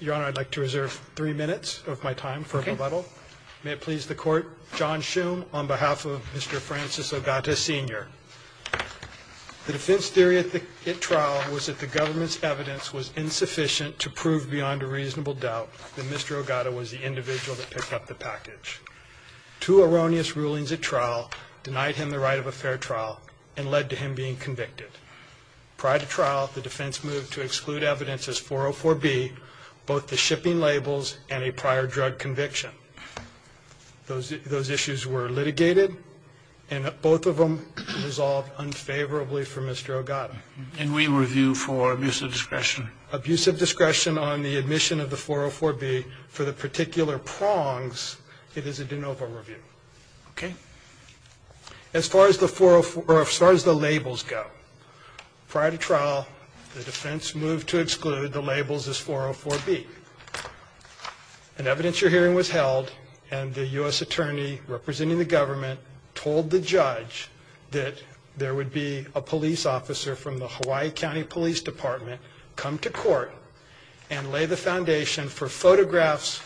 Your Honor, I'd like to reserve three minutes of my time for rebuttal. May it please the Court. John Shume, on behalf of Mr. Francis Ogata, Sr. The defense theory at trial was that the government's evidence was insufficient to prove beyond a reasonable doubt that Mr. Ogata was the individual that picked up the package. Two erroneous rulings at trial denied him the right of a fair trial and led to him being convicted. Prior to trial, the defense moved to exclude evidence as 404B, both the shipping labels and a prior drug conviction. Those issues were litigated, and both of them resolved unfavorably for Mr. Ogata. And we review for abusive discretion. Abusive discretion on the admission of the 404B for the particular prongs, it is a de novo review. Okay? As far as the labels go, prior to trial, the defense moved to exclude the labels as 404B. An evidence-your-hearing was held, and the U.S. attorney representing the government told the judge that there would be a police officer from the Hawaii County Police Department come to court and lay the foundation for photographs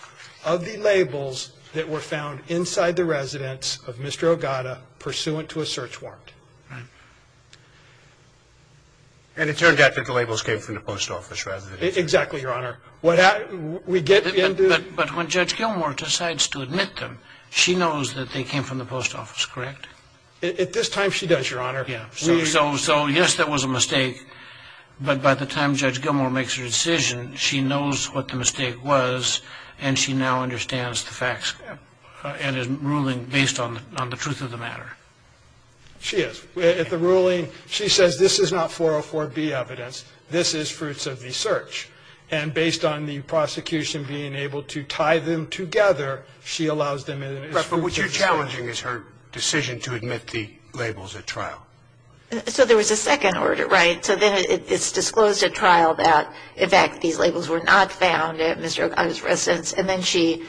of the labels that were found inside the residence of Mr. Ogata, pursuant to a search warrant. And it turned out that the labels came from the post office residence. Exactly, Your Honor. But when Judge Gilmour decides to admit them, she knows that they came from the post office, correct? At this time, she does, Your Honor. So, yes, that was a mistake. But by the time Judge Gilmour makes her decision, she knows what the mistake was, and she now understands the facts and is ruling based on the truth of the matter. She is. At the ruling, she says this is not 404B evidence. This is fruits of the search. And based on the prosecution being able to tie them together, she allows them in. But what you're challenging is her decision to admit the labels at trial. So there was a second order, right? So then it's disclosed at trial that, in fact, these labels were not found at Mr. Ogata's residence, and then she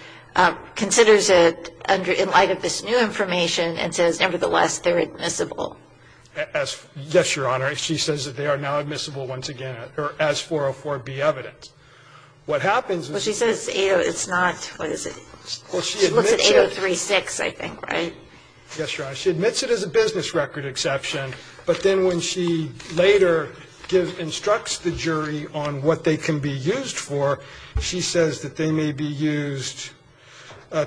considers it in light of this new information and says, nevertheless, they're admissible. Yes, Your Honor. She says that they are now admissible once again, or as 404B evidence. What happens is she says it's not. What is it? She looks at 8036, I think, right? Yes, Your Honor. She admits it as a business record exception, but then when she later instructs the jury on what they can be used for, she says that they may be used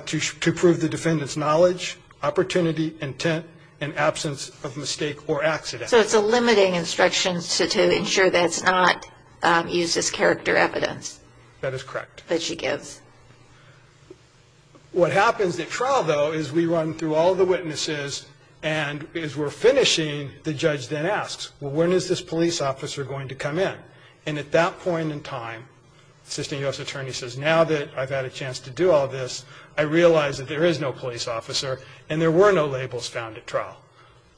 to prove the defendant's knowledge, opportunity, intent, and absence of mistake or accident. So it's a limiting instruction to ensure that it's not used as character evidence. That is correct. That she gives. What happens at trial, though, is we run through all the witnesses, and as we're finishing, the judge then asks, well, when is this police officer going to come in? And at that point in time, the assistant U.S. attorney says, now that I've had a chance to do all this, I realize that there is no police officer and there were no labels found at trial.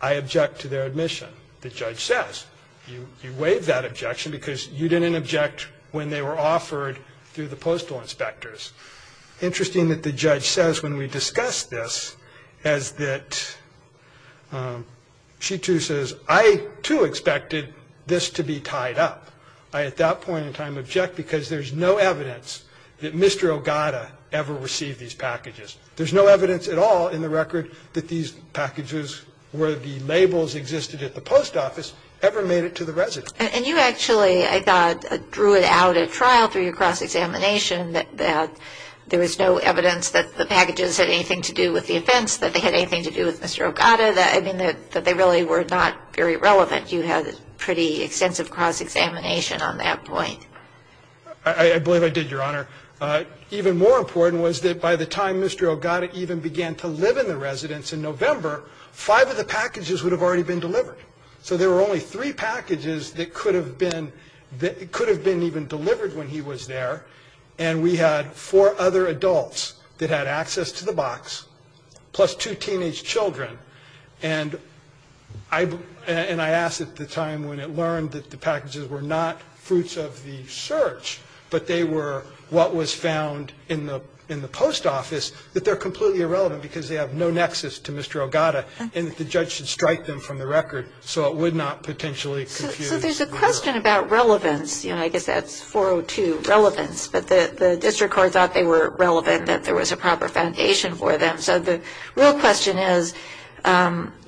I object to their admission. The judge says, you waived that objection because you didn't object when they were offered through the postal inspectors. Interesting that the judge says when we discuss this is that she, too, says, I, too, expected this to be tied up. I, at that point in time, object because there's no evidence that Mr. Ogata ever received these packages. There's no evidence at all in the record that these packages, where the labels existed at the post office, ever made it to the residence. And you actually, I thought, drew it out at trial through your cross-examination that there was no evidence that the packages had anything to do with the offense, that they had anything to do with Mr. Ogata, that, I mean, that they really were not very relevant. You had a pretty extensive cross-examination on that point. I believe I did, Your Honor. I believe I did, Your Honor. Even more important was that by the time Mr. Ogata even began to live in the residence in November, five of the packages would have already been delivered. So there were only three packages that could have been even delivered when he was there. And we had four other adults that had access to the box, plus two teenage children. And I asked at the time when it learned that the packages were not fruits of the search, but they were what was found in the post office, that they're completely irrelevant because they have no nexus to Mr. Ogata, and that the judge should strike them from the record so it would not potentially confuse. So there's a question about relevance. I guess that's 402, relevance. But the district court thought they were relevant, that there was a proper foundation for them. So the real question is,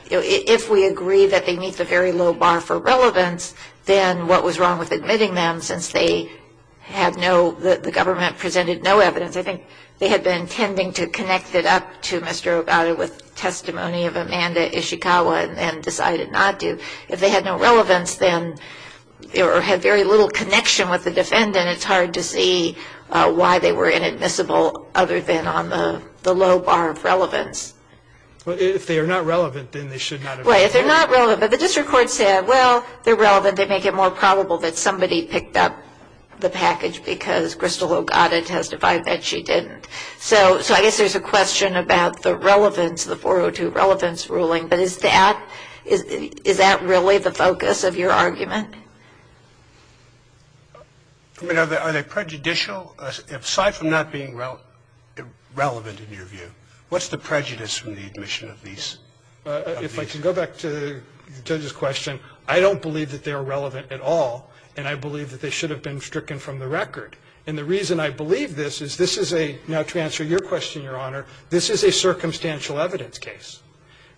if we agree that they meet the very low bar for relevance, then what was wrong with admitting them since they had no, the government presented no evidence? I think they had been intending to connect it up to Mr. Ogata with testimony of Amanda Ishikawa and decided not to. If they had no relevance then, or had very little connection with the defendant, it's hard to see why they were inadmissible other than on the low bar of relevance. Well, if they are not relevant, then they should not have been. Right, if they're not relevant. But the district court said, well, they're relevant, they make it more probable that somebody picked up the package because Crystal Ogata testified that she didn't. So I guess there's a question about the relevance, the 402, relevance ruling. But is that really the focus of your argument? I mean, are they prejudicial? Aside from not being relevant in your view, what's the prejudice from the admission of these? If I can go back to the judge's question, I don't believe that they are relevant at all, and I believe that they should have been stricken from the record. And the reason I believe this is this is a, now to answer your question, Your Honor, this is a circumstantial evidence case.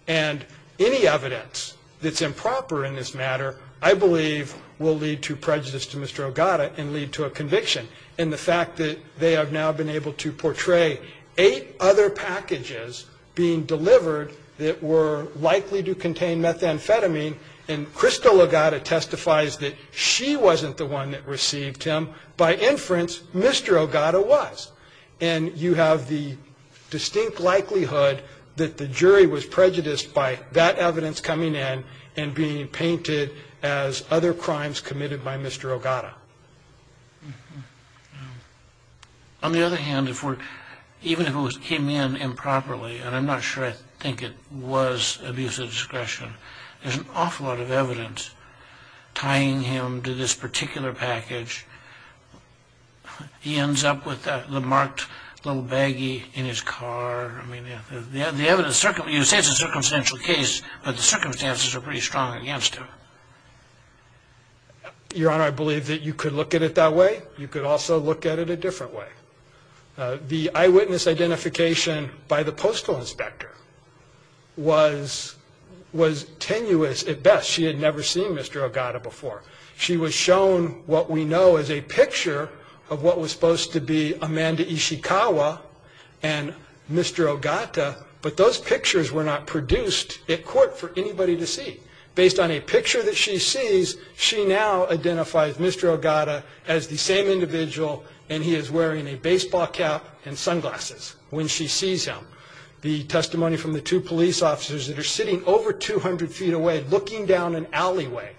And any evidence that's improper in this matter, I believe, will lead to prejudice to Mr. Ogata and lead to a conviction. And the fact that they have now been able to portray eight other packages being delivered that were likely to contain methamphetamine, and Crystal Ogata testifies that she wasn't the one that received them. By inference, Mr. Ogata was. And you have the distinct likelihood that the jury was prejudiced by that evidence coming in and being painted as other crimes committed by Mr. Ogata. On the other hand, even if it came in improperly, and I'm not sure I think it was abuse of discretion, there's an awful lot of evidence tying him to this particular package. He ends up with the marked little baggie in his car. You say it's a circumstantial case, but the circumstances are pretty strong against him. Your Honor, I believe that you could look at it that way. You could also look at it a different way. The eyewitness identification by the postal inspector was tenuous at best. She had never seen Mr. Ogata before. She was shown what we know as a picture of what was supposed to be Amanda Ishikawa and Mr. Ogata, but those pictures were not produced at court for anybody to see. Based on a picture that she sees, she now identifies Mr. Ogata as the same individual, and he is wearing a baseball cap and sunglasses when she sees him. The testimony from the two police officers that are sitting over 200 feet away looking down an alleyway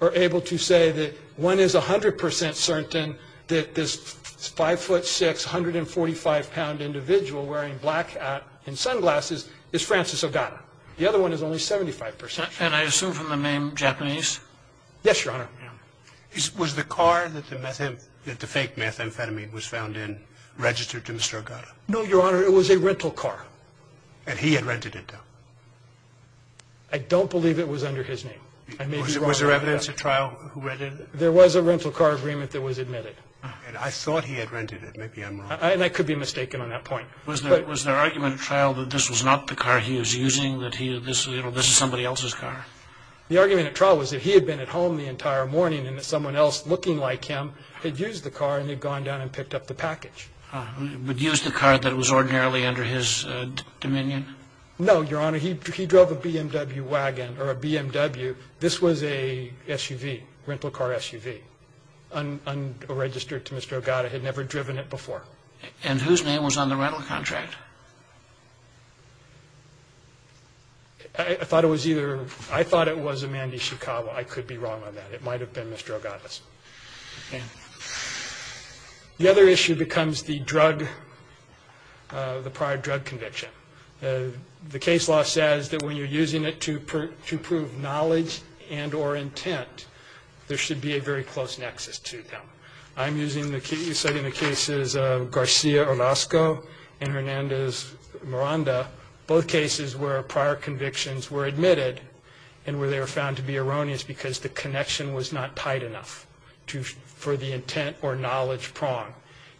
are able to say that one is 100 percent certain that this 5'6", 145-pound individual wearing black hat and sunglasses is Francis Ogata. The other one is only 75 percent certain. And I assume from the name Japanese? Yes, Your Honor. Was the car that the fake methamphetamine was found in registered to Mr. Ogata? No, Your Honor. It was a rental car. And he had rented it, though? I don't believe it was under his name. Was there evidence at trial who read it? There was a rental car agreement that was admitted. I thought he had rented it. Maybe I'm wrong. And I could be mistaken on that point. Was there argument at trial that this was not the car he was using, that this was somebody else's car? The argument at trial was that he had been at home the entire morning and that someone else looking like him had used the car and had gone down and picked up the package. But he used the car that was ordinarily under his dominion? No, Your Honor. He drove a BMW wagon or a BMW. This was a SUV, rental car SUV, unregistered to Mr. Ogata. He had never driven it before. And whose name was on the rental contract? I thought it was either – I thought it was Amanda Ishikawa. I could be wrong on that. It might have been Mr. Ogata's. Okay. The other issue becomes the drug, the prior drug conviction. The case law says that when you're using it to prove knowledge and or intent, there should be a very close nexus to them. I'm using the case – studying the cases of Garcia-Orozco and Hernandez-Miranda, both cases where prior convictions were admitted and where they were found to be erroneous because the connection was not tight enough for the intent or knowledge prong.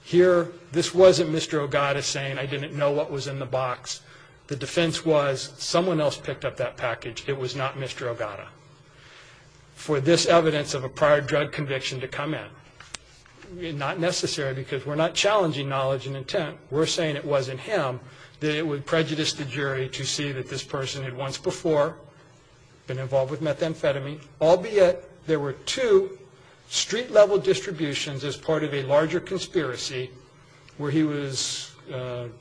Here, this wasn't Mr. Ogata saying, I didn't know what was in the box. The defense was someone else picked up that package. It was not Mr. Ogata. For this evidence of a prior drug conviction to come in, not necessary because we're not challenging knowledge and intent. We're saying it wasn't him. It would prejudice the jury to see that this person had once before been involved with methamphetamine, albeit there were two street-level distributions as part of a larger conspiracy where he was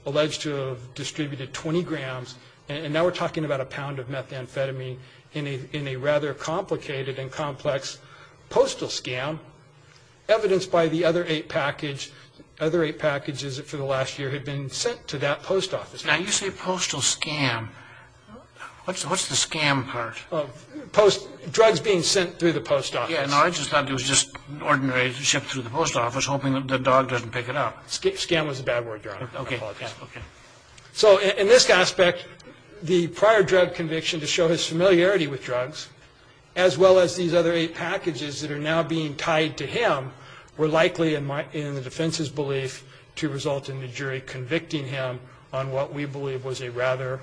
alleged to have distributed 20 grams, and now we're talking about a pound of methamphetamine, in a rather complicated and complex postal scam, evidence by the other eight packages for the last year had been sent to that post office. Now, you say postal scam. What's the scam part? Drugs being sent through the post office. Yeah, no, I just thought it was just ordinary shipped through the post office hoping that the dog doesn't pick it up. Scam was a bad word, Your Honor. Okay, okay. So, in this aspect, the prior drug conviction to show his familiarity with drugs, as well as these other eight packages that are now being tied to him, were likely in the defense's belief to result in the jury convicting him on what we believe was a rather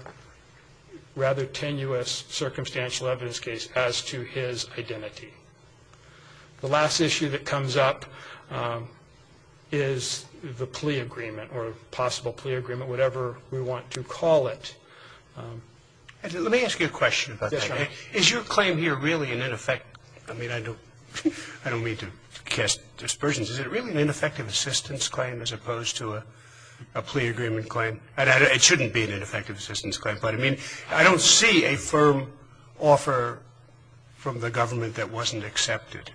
tenuous circumstantial evidence case as to his identity. The last issue that comes up is the plea agreement or possible plea agreement, whatever we want to call it. Let me ask you a question about that. Is your claim here really an in effect? I mean, I don't mean to cast dispersions. Is it really an ineffective assistance claim as opposed to a plea agreement claim? It shouldn't be an ineffective assistance claim. But, I mean, I don't see a firm offer from the government that wasn't accepted.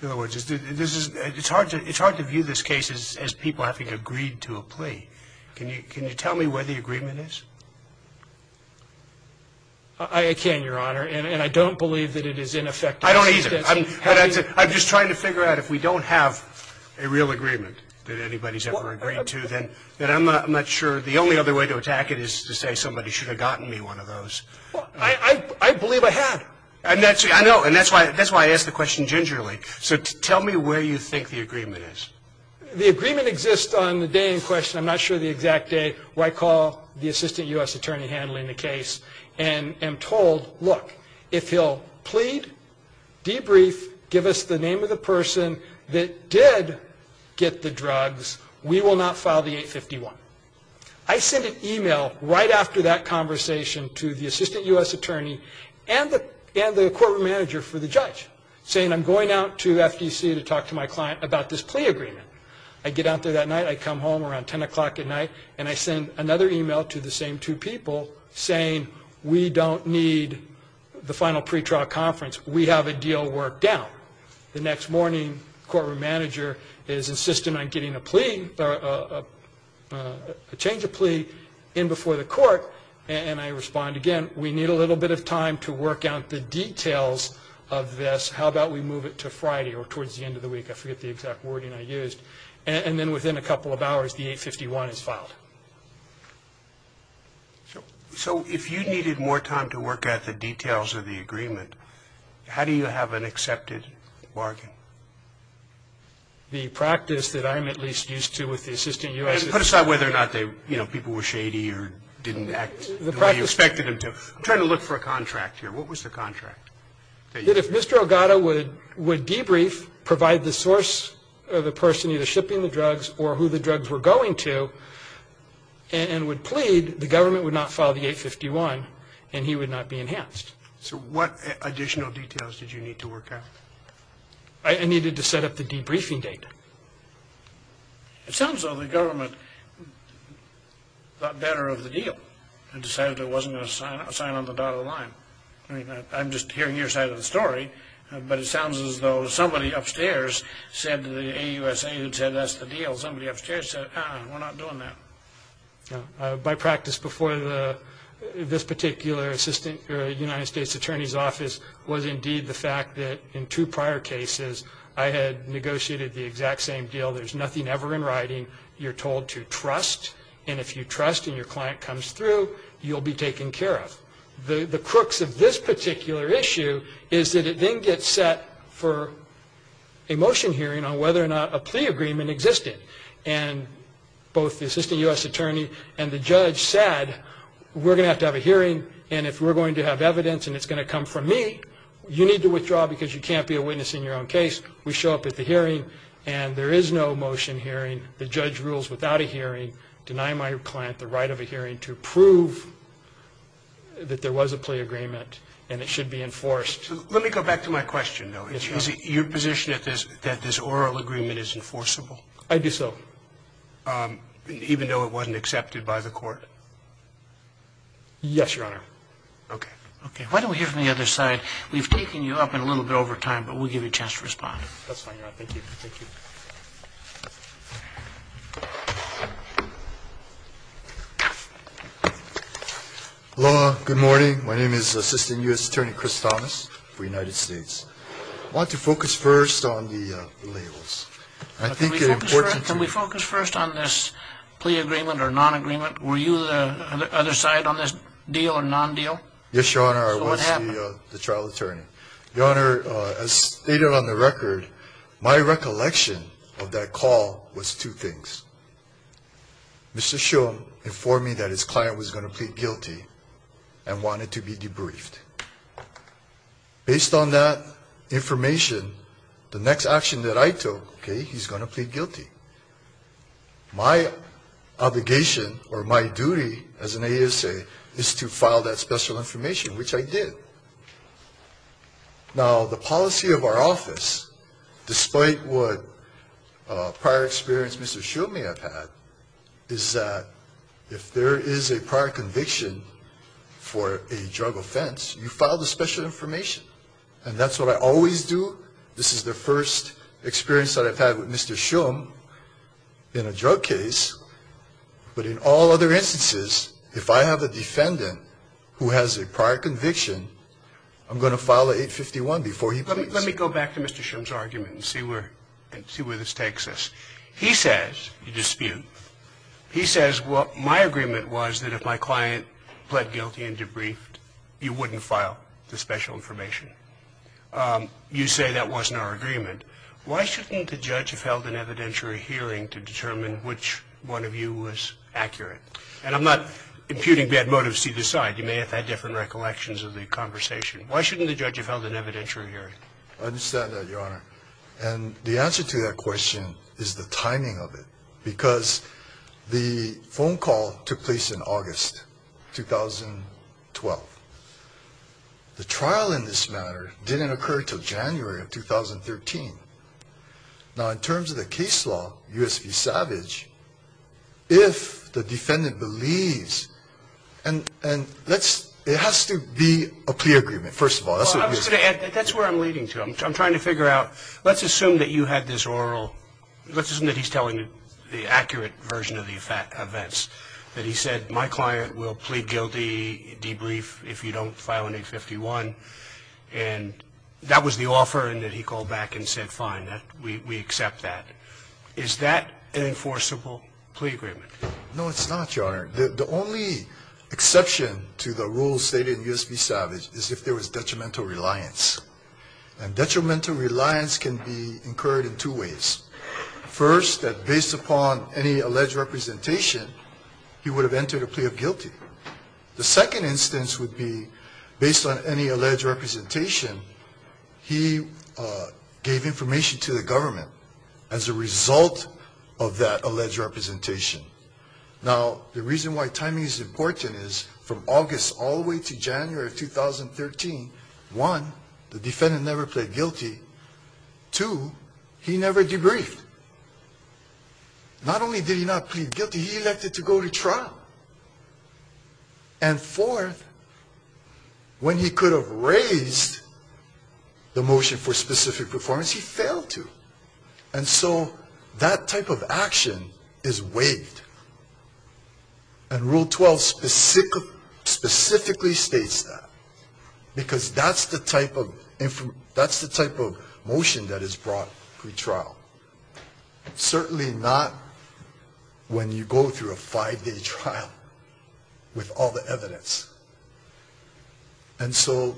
In other words, it's hard to view this case as people having agreed to a plea. Can you tell me where the agreement is? I can, Your Honor. And I don't believe that it is ineffective assistance. I don't either. I'm just trying to figure out if we don't have a real agreement that anybody's ever agreed to, then I'm not sure. The only other way to attack it is to say somebody should have gotten me one of those. I believe I had. I know. And that's why I asked the question gingerly. So tell me where you think the agreement is. The agreement exists on the day in question. I'm not sure the exact day where I call the assistant U.S. attorney handling the case and am told, look, if he'll plead, debrief, give us the name of the person that did get the drugs, we will not file the 851. I send an email right after that conversation to the assistant U.S. attorney and the courtroom manager for the judge saying I'm going out to FTC to talk to my client about this plea agreement. I get out there that night. I come home around 10 o'clock at night, and I send another email to the same two people saying we don't need the final pretrial conference. We have a deal worked out. The next morning, the courtroom manager is insistent on getting a change of plea in before the court, and I respond again, we need a little bit of time to work out the details of this. How about we move it to Friday or towards the end of the week? I forget the exact wording I used. And then within a couple of hours, the 851 is filed. So if you needed more time to work out the details of the agreement, how do you have an accepted bargain? The practice that I'm at least used to with the assistant U.S. Put aside whether or not people were shady or didn't act the way you expected them to. I'm trying to look for a contract here. What was the contract? That if Mr. Elgato would debrief, provide the source of the person either shipping the drugs or who the drugs were going to, and would plead, the government would not file the 851, and he would not be enhanced. So what additional details did you need to work out? I needed to set up the debriefing date. It sounds as though the government thought better of the deal and decided it wasn't going to sign on the dotted line. I mean, I'm just hearing your side of the story, but it sounds as though somebody upstairs said to the AUSA who'd sent us the deal, somebody upstairs said, ah, we're not doing that. By practice, before this particular assistant United States Attorney's Office, was indeed the fact that in two prior cases, I had negotiated the exact same deal. There's nothing ever in writing. You're told to trust, and if you trust and your client comes through, you'll be taken care of. The crooks of this particular issue is that it then gets set for a motion hearing on whether or not a plea agreement existed, and both the assistant U.S. attorney and the judge said, we're going to have to have a hearing, and if we're going to have evidence and it's going to come from me, you need to withdraw because you can't be a witness in your own case. We show up at the hearing, and there is no motion hearing. The judge rules without a hearing, deny my client the right of a hearing to prove that there was a plea agreement and it should be enforced. Let me go back to my question, though. Yes, Your Honor. Is it your position that this oral agreement is enforceable? I do so. Even though it wasn't accepted by the court? Yes, Your Honor. Okay. Okay. Why don't we hear from the other side? We've taken you up a little bit over time, but we'll give you a chance to respond. That's fine, Your Honor. Thank you. Thank you. Hello. Good morning. My name is Assistant U.S. Attorney Chris Thomas for the United States. I want to focus first on the labels. Can we focus first on this plea agreement or non-agreement? Were you the other side on this deal or non-deal? Yes, Your Honor. I was the trial attorney. Your Honor, as stated on the record, my recollection of that call was two things. Mr. Shum informed me that his client was going to plead guilty and wanted to be debriefed. Based on that information, the next action that I took, okay, he's going to plead guilty. My obligation or my duty as an ASA is to file that special information, which I did. Now, the policy of our office, despite what prior experience Mr. Shum may have had, is that if there is a prior conviction for a drug offense, you file the special information. And that's what I always do. This is the first experience that I've had with Mr. Shum in a drug case. But in all other instances, if I have a defendant who has a prior conviction, I'm going to file an 851 before he pleads. Let me go back to Mr. Shum's argument and see where this takes us. He says, you dispute, he says, well, my agreement was that if my client pled guilty and debriefed, you wouldn't file the special information. You say that wasn't our agreement. Why shouldn't the judge have held an evidentiary hearing to determine which one of you was accurate? And I'm not imputing bad motives to either side. You may have had different recollections of the conversation. Why shouldn't the judge have held an evidentiary hearing? I understand that, Your Honor. And the answer to that question is the timing of it. Because the phone call took place in August 2012. The trial in this matter didn't occur until January of 2013. Now, in terms of the case law, U.S. v. Savage, if the defendant believes, and it has to be a plea agreement, first of all. I was going to add, that's where I'm leading to. I'm trying to figure out, let's assume that you had this oral, let's assume that he's telling the accurate version of the events, that he said, my client will plead guilty, debrief, if you don't file an 851. And that was the offer, and that he called back and said, fine, we accept that. Is that an enforceable plea agreement? No, it's not, Your Honor. The only exception to the rules stated in U.S. v. Savage is if there was detrimental reliance. And detrimental reliance can be incurred in two ways. First, that based upon any alleged representation, he would have entered a plea of guilty. The second instance would be, based on any alleged representation, he gave information to the government as a result of that alleged representation. Now, the reason why timing is important is, from August all the way to January of 2013, one, the defendant never pled guilty. Two, he never debriefed. Not only did he not plead guilty, he elected to go to trial. And fourth, when he could have raised the motion for specific performance, he failed to. And so that type of action is waived. And Rule 12 specifically states that. Because that's the type of motion that is brought to trial. Certainly not when you go through a five-day trial with all the evidence. And so,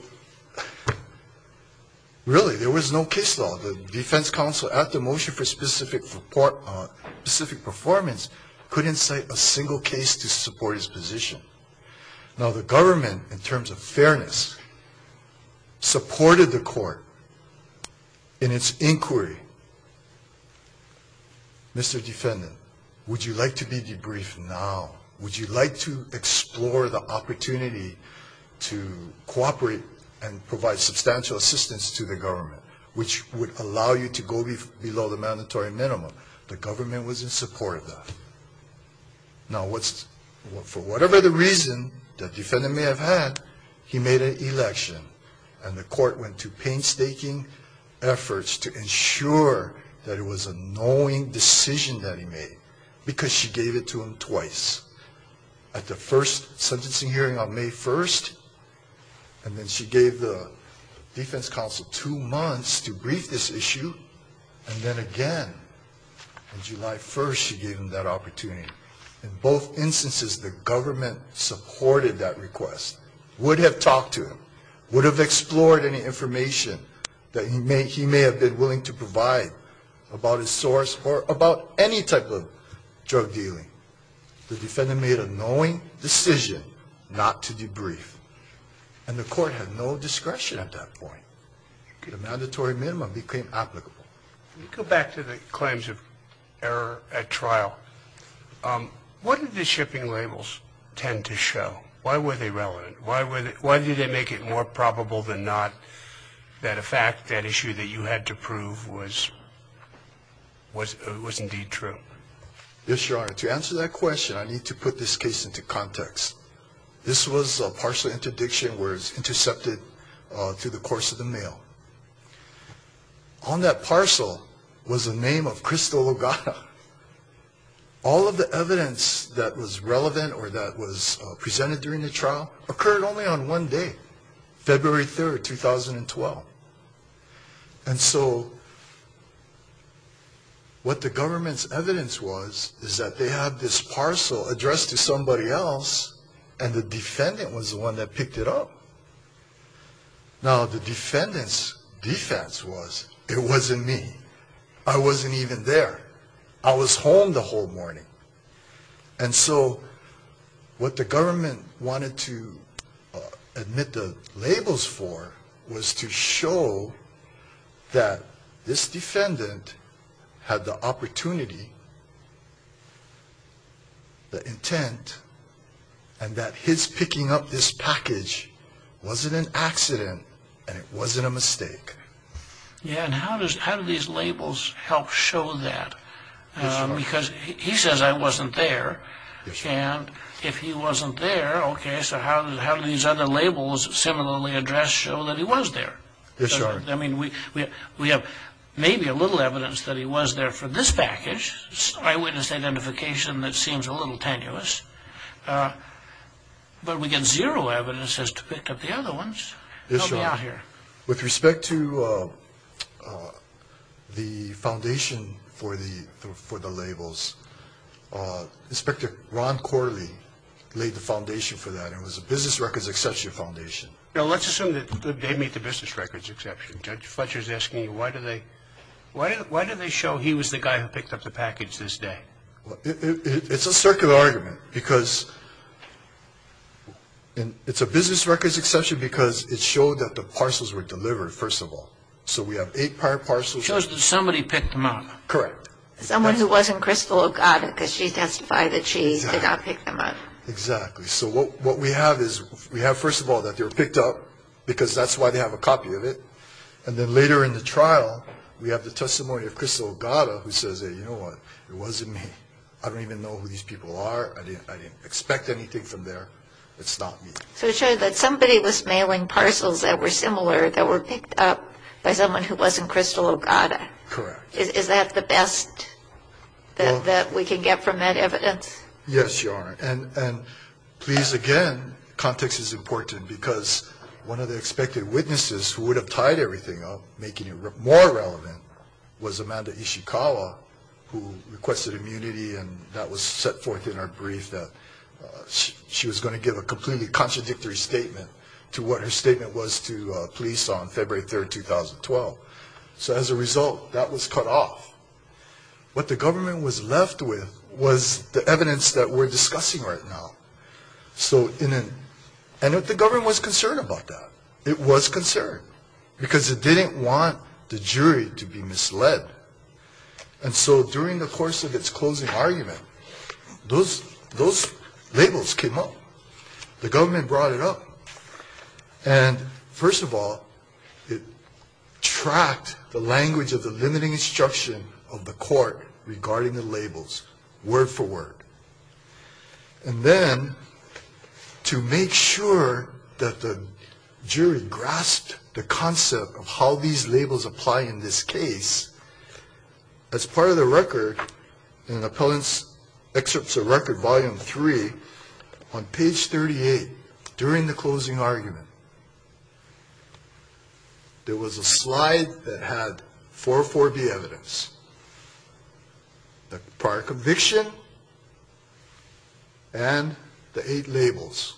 really, there was no case law. The defense counsel, at the motion for specific performance, couldn't cite a single case to support his position. Now, the government, in terms of fairness, supported the court in its inquiry. Mr. Defendant, would you like to be debriefed now? Would you like to explore the opportunity to cooperate and provide substantial assistance to the government, which would allow you to go below the mandatory minimum? The government was in support of that. Now, for whatever the reason the defendant may have had, he made an election. And the court went to painstaking efforts to ensure that it was a knowing decision that he made, because she gave it to him twice. At the first sentencing hearing on May 1st, and then she gave the defense counsel two months to brief this issue, and then again on July 1st she gave him that opportunity. In both instances, the government supported that request. The defense would have talked to him, would have explored any information that he may have been willing to provide about his source or about any type of drug dealing. The defendant made a knowing decision not to debrief. And the court had no discretion at that point. The mandatory minimum became applicable. Let me go back to the claims of error at trial. What did the shipping labels tend to show? Why were they relevant? Why did they make it more probable than not that a fact, that issue that you had to prove was indeed true? Yes, Your Honor. To answer that question, I need to put this case into context. This was a parcel interdiction where it was intercepted through the course of the mail. On that parcel was the name of Crystal Lugana. All of the evidence that was relevant or that was presented during the trial occurred only on one day, February 3rd, 2012. And so what the government's evidence was is that they had this parcel addressed to somebody else and the defendant was the one that picked it up. Now the defendant's defense was it wasn't me. I wasn't even there. I was home the whole morning. And so what the government wanted to admit the labels for was to show that this defendant had the opportunity, the intent, and that his picking up this package wasn't an accident and it wasn't a mistake. Yeah, and how do these labels help show that? Because he says I wasn't there. And if he wasn't there, okay, so how do these other labels similarly addressed show that he was there? Yes, Your Honor. I mean, we have maybe a little evidence that he was there for this package, eyewitness identification that seems a little tenuous. But we get zero evidence as to pick up the other ones. Yes, Your Honor. Help me out here. With respect to the foundation for the labels, Inspector Ron Corley laid the foundation for that. It was a business records exception foundation. Now let's assume that they made the business records exception. Judge Fletcher is asking you why do they show he was the guy who picked up the package this day? It's a circular argument because it's a business records exception because it showed that the parcels were delivered, first of all. So we have eight parcels. It shows that somebody picked them up. Correct. Someone who wasn't Crystal Ogata because she testified that she did not pick them up. Exactly. So what we have is we have, first of all, that they were picked up because that's why they have a copy of it. And then later in the trial, we have the testimony of Crystal Ogata who says, hey, you know what, it wasn't me. I don't even know who these people are. I didn't expect anything from there. It's not me. So it showed that somebody was mailing parcels that were similar, that were picked up by someone who wasn't Crystal Ogata. Correct. Is that the best that we can get from that evidence? Yes, Your Honor. And please, again, context is important because one of the expected witnesses who would have tied everything up, making it more relevant, was Amanda Ishikawa who requested immunity and that was set forth in her brief that she was going to give a completely contradictory statement to what her statement was to police on February 3, 2012. So as a result, that was cut off. What the government was left with was the evidence that we're discussing right now. And the government was concerned about that. It was concerned because it didn't want the jury to be misled. And so during the course of its closing argument, those labels came up. The government brought it up. And first of all, it tracked the language of the limiting instruction of the court regarding the labels, word for word. And then to make sure that the jury grasped the concept of how these labels apply in this case, as part of the record in Appellant's Excerpts of Record, Volume 3, on page 38 during the closing argument, there was a slide that had 440B evidence, the prior conviction, and the eight labels.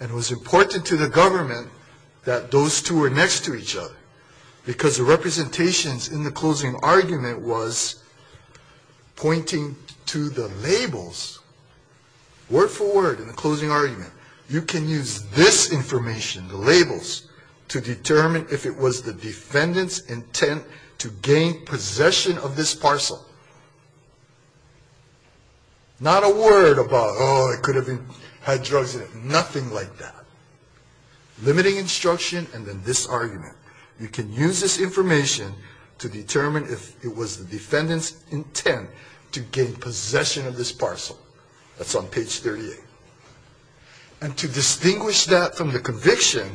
And it was important to the government that those two were next to each other because the representations in the closing argument was pointing to the labels, word for word in the closing argument. You can use this information, the labels, to determine if it was the defendant's intent to gain possession of this parcel. Not a word about, oh, it could have had drugs in it. Nothing like that. Limiting instruction and then this argument. You can use this information to determine if it was the defendant's intent to gain possession of this parcel. That's on page 38. And to distinguish that from the conviction,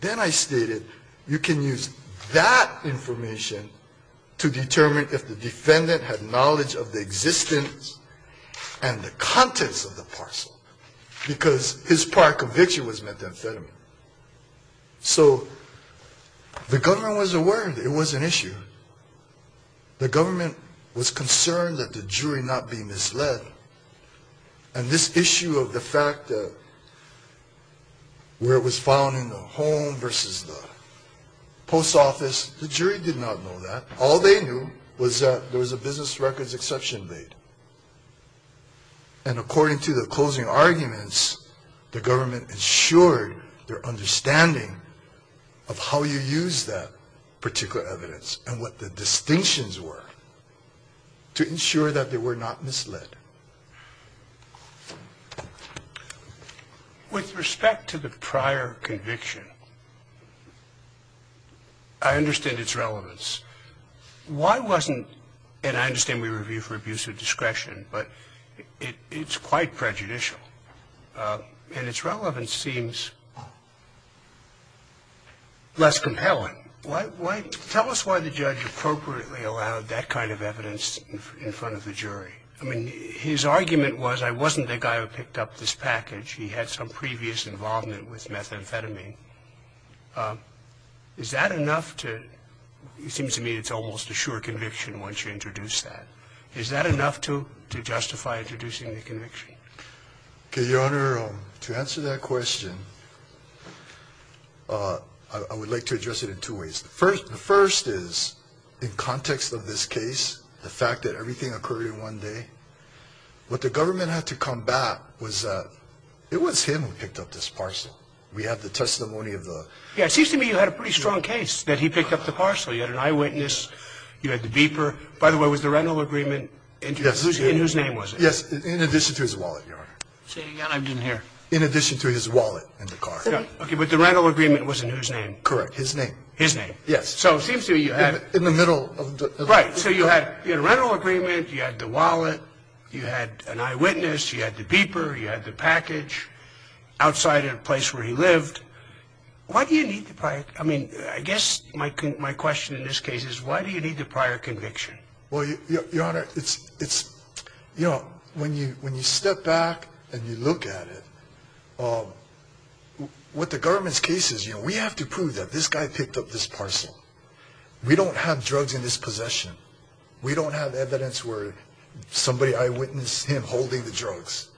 then I stated you can use that information to determine if the defendant had knowledge of the existence and the contents of the parcel because his prior conviction was methamphetamine. So the government was aware that it was an issue. The government was concerned that the jury not be misled. And this issue of the fact that where it was found in the home versus the post office, the jury did not know that. All they knew was that there was a business records exception made. And according to the closing arguments, the government ensured their understanding of how you use that particular evidence and what the distinctions were to ensure that they were not misled. With respect to the prior conviction, I understand its relevance. Why wasn't, and I understand we review for abuse of discretion, but it's quite prejudicial. And its relevance seems less compelling. Tell us why the judge appropriately allowed that kind of evidence in front of the jury. I mean, his argument was I wasn't the guy who picked up this package. He had some previous involvement with methamphetamine. Is that enough to, it seems to me it's almost a sure conviction once you introduce that. Is that enough to justify introducing the conviction? Okay, Your Honor, to answer that question, I would like to address it in two ways. The first is in context of this case, the fact that everything occurred in one day, what the government had to combat was that it was him who picked up this parcel. We have the testimony of the. Yeah, it seems to me you had a pretty strong case that he picked up the parcel. You had an eyewitness, you had the beeper. By the way, was the rental agreement in whose name was it? Yes, in addition to his wallet, Your Honor. Say it again, I didn't hear. In addition to his wallet and the car. Okay, but the rental agreement was in whose name? Correct, his name. His name. Yes. So it seems to me you had. In the middle of the. Right, so you had a rental agreement, you had the wallet, you had an eyewitness, you had the beeper, you had the package, outside in a place where he lived. Why do you need the prior? I mean, I guess my question in this case is why do you need the prior conviction? Well, Your Honor, it's, you know, when you step back and you look at it, what the government's case is, you know, we have to prove that this guy picked up this parcel. We don't have drugs in his possession. We don't have evidence where somebody eyewitnessed him holding the drugs.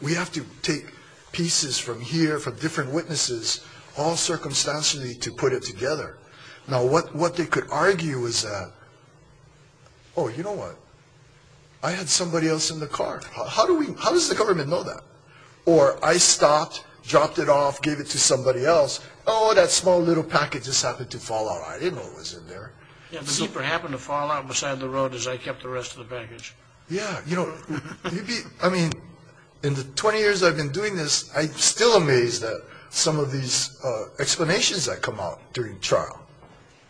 We have to take pieces from here from different witnesses all circumstantially to put it together. Now, what they could argue is that, oh, you know what, I had somebody else in the car. How does the government know that? Or I stopped, dropped it off, gave it to somebody else. Oh, that small little package just happened to fall out. I didn't know it was in there. Yeah, the beeper happened to fall out beside the road as I kept the rest of the baggage. Yeah, you know, I mean, in the 20 years I've been doing this, I'm still amazed at some of these explanations that come out during trial.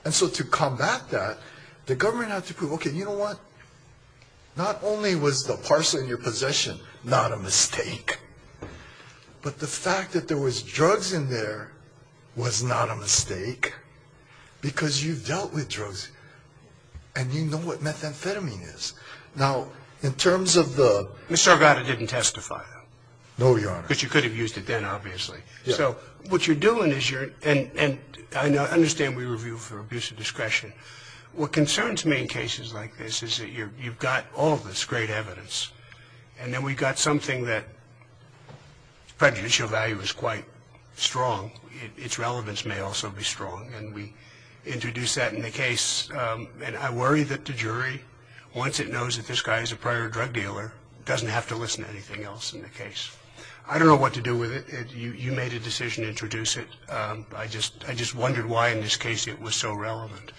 And so to combat that, the government had to prove, okay, you know what, not only was the parcel in your possession not a mistake, but the fact that there was drugs in there was not a mistake because you've dealt with drugs and you know what methamphetamine is. Now, in terms of the Mr. Arvada didn't testify. No, Your Honor. But you could have used it then, obviously. So what you're doing is you're and I understand we review for abuse of discretion. What concerns me in cases like this is that you've got all this great evidence and then we've got something that's prejudicial value is quite strong. Its relevance may also be strong. And we introduce that in the case. And I worry that the jury, once it knows that this guy is a prior drug dealer, doesn't have to listen to anything else in the case. I don't know what to do with it. You made a decision to introduce it. I just wondered why in this case it was so relevant.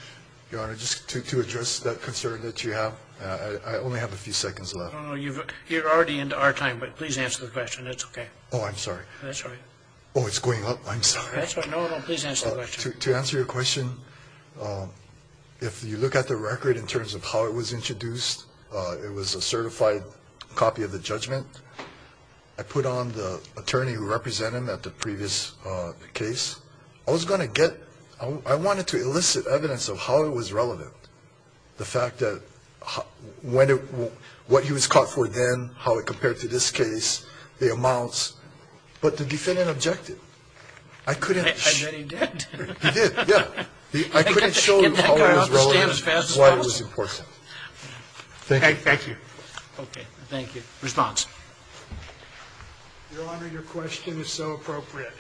Your Honor, just to address that concern that you have, I only have a few seconds left. You're already into our time, but please answer the question. It's okay. Oh, I'm sorry. That's all right. Oh, it's going up. I'm sorry. No, no, please answer the question. To answer your question, if you look at the record in terms of how it was introduced, it was a certified copy of the judgment. I put on the attorney who represented him at the previous case. I wanted to elicit evidence of how it was relevant, the fact that what he was caught for then, how it compared to this case, the amounts. But the defendant objected. And then he did? He did, yeah. I couldn't show you how it was relevant and why it was important. Thank you. Okay, thank you. Response. Your Honor, your question is so appropriate.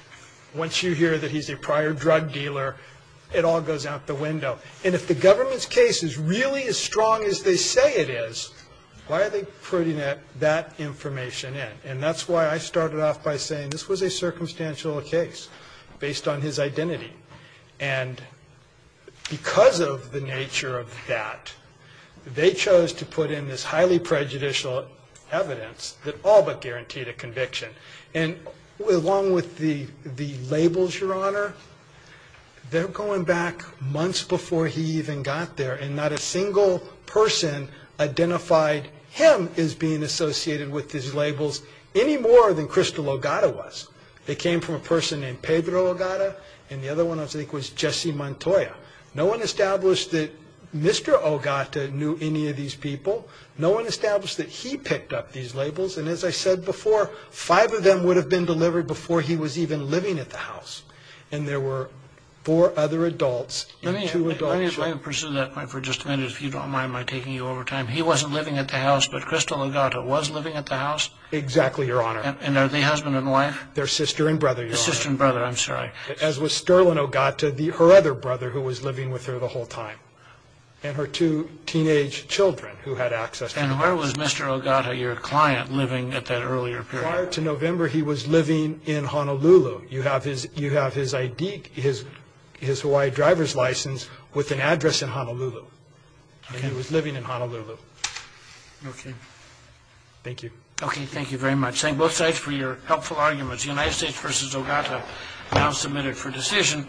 Once you hear that he's a prior drug dealer, it all goes out the window. And if the government's case is really as strong as they say it is, why are they putting that information in? And that's why I started off by saying this was a circumstantial case based on his identity. And because of the nature of that, they chose to put in this highly prejudicial evidence that all but guaranteed a conviction. And along with the labels, your Honor, they're going back months before he even got there, and not a single person identified him as being associated with these labels any more than Crystal Ogata was. It came from a person named Pedro Ogata, and the other one I think was Jesse Montoya. No one established that Mr. Ogata knew any of these people. No one established that he picked up these labels. And as I said before, five of them would have been delivered before he was even living at the house. And there were four other adults and two adults. Let me pursue that point for just a minute, if you don't mind my taking you over time. He wasn't living at the house, but Crystal Ogata was living at the house? Exactly, your Honor. And are they husband and wife? They're sister and brother, your Honor. Sister and brother, I'm sorry. As was Sterling Ogata, her other brother who was living with her the whole time, and her two teenage children who had access to the house. And where was Mr. Ogata, your client, living at that earlier period? Prior to November, he was living in Honolulu. You have his ID, his Hawaii driver's license, with an address in Honolulu. And he was living in Honolulu. Okay. Thank you. Okay, thank you very much. Thank both sides for your helpful arguments. The United States v. Ogata now submitted for decision.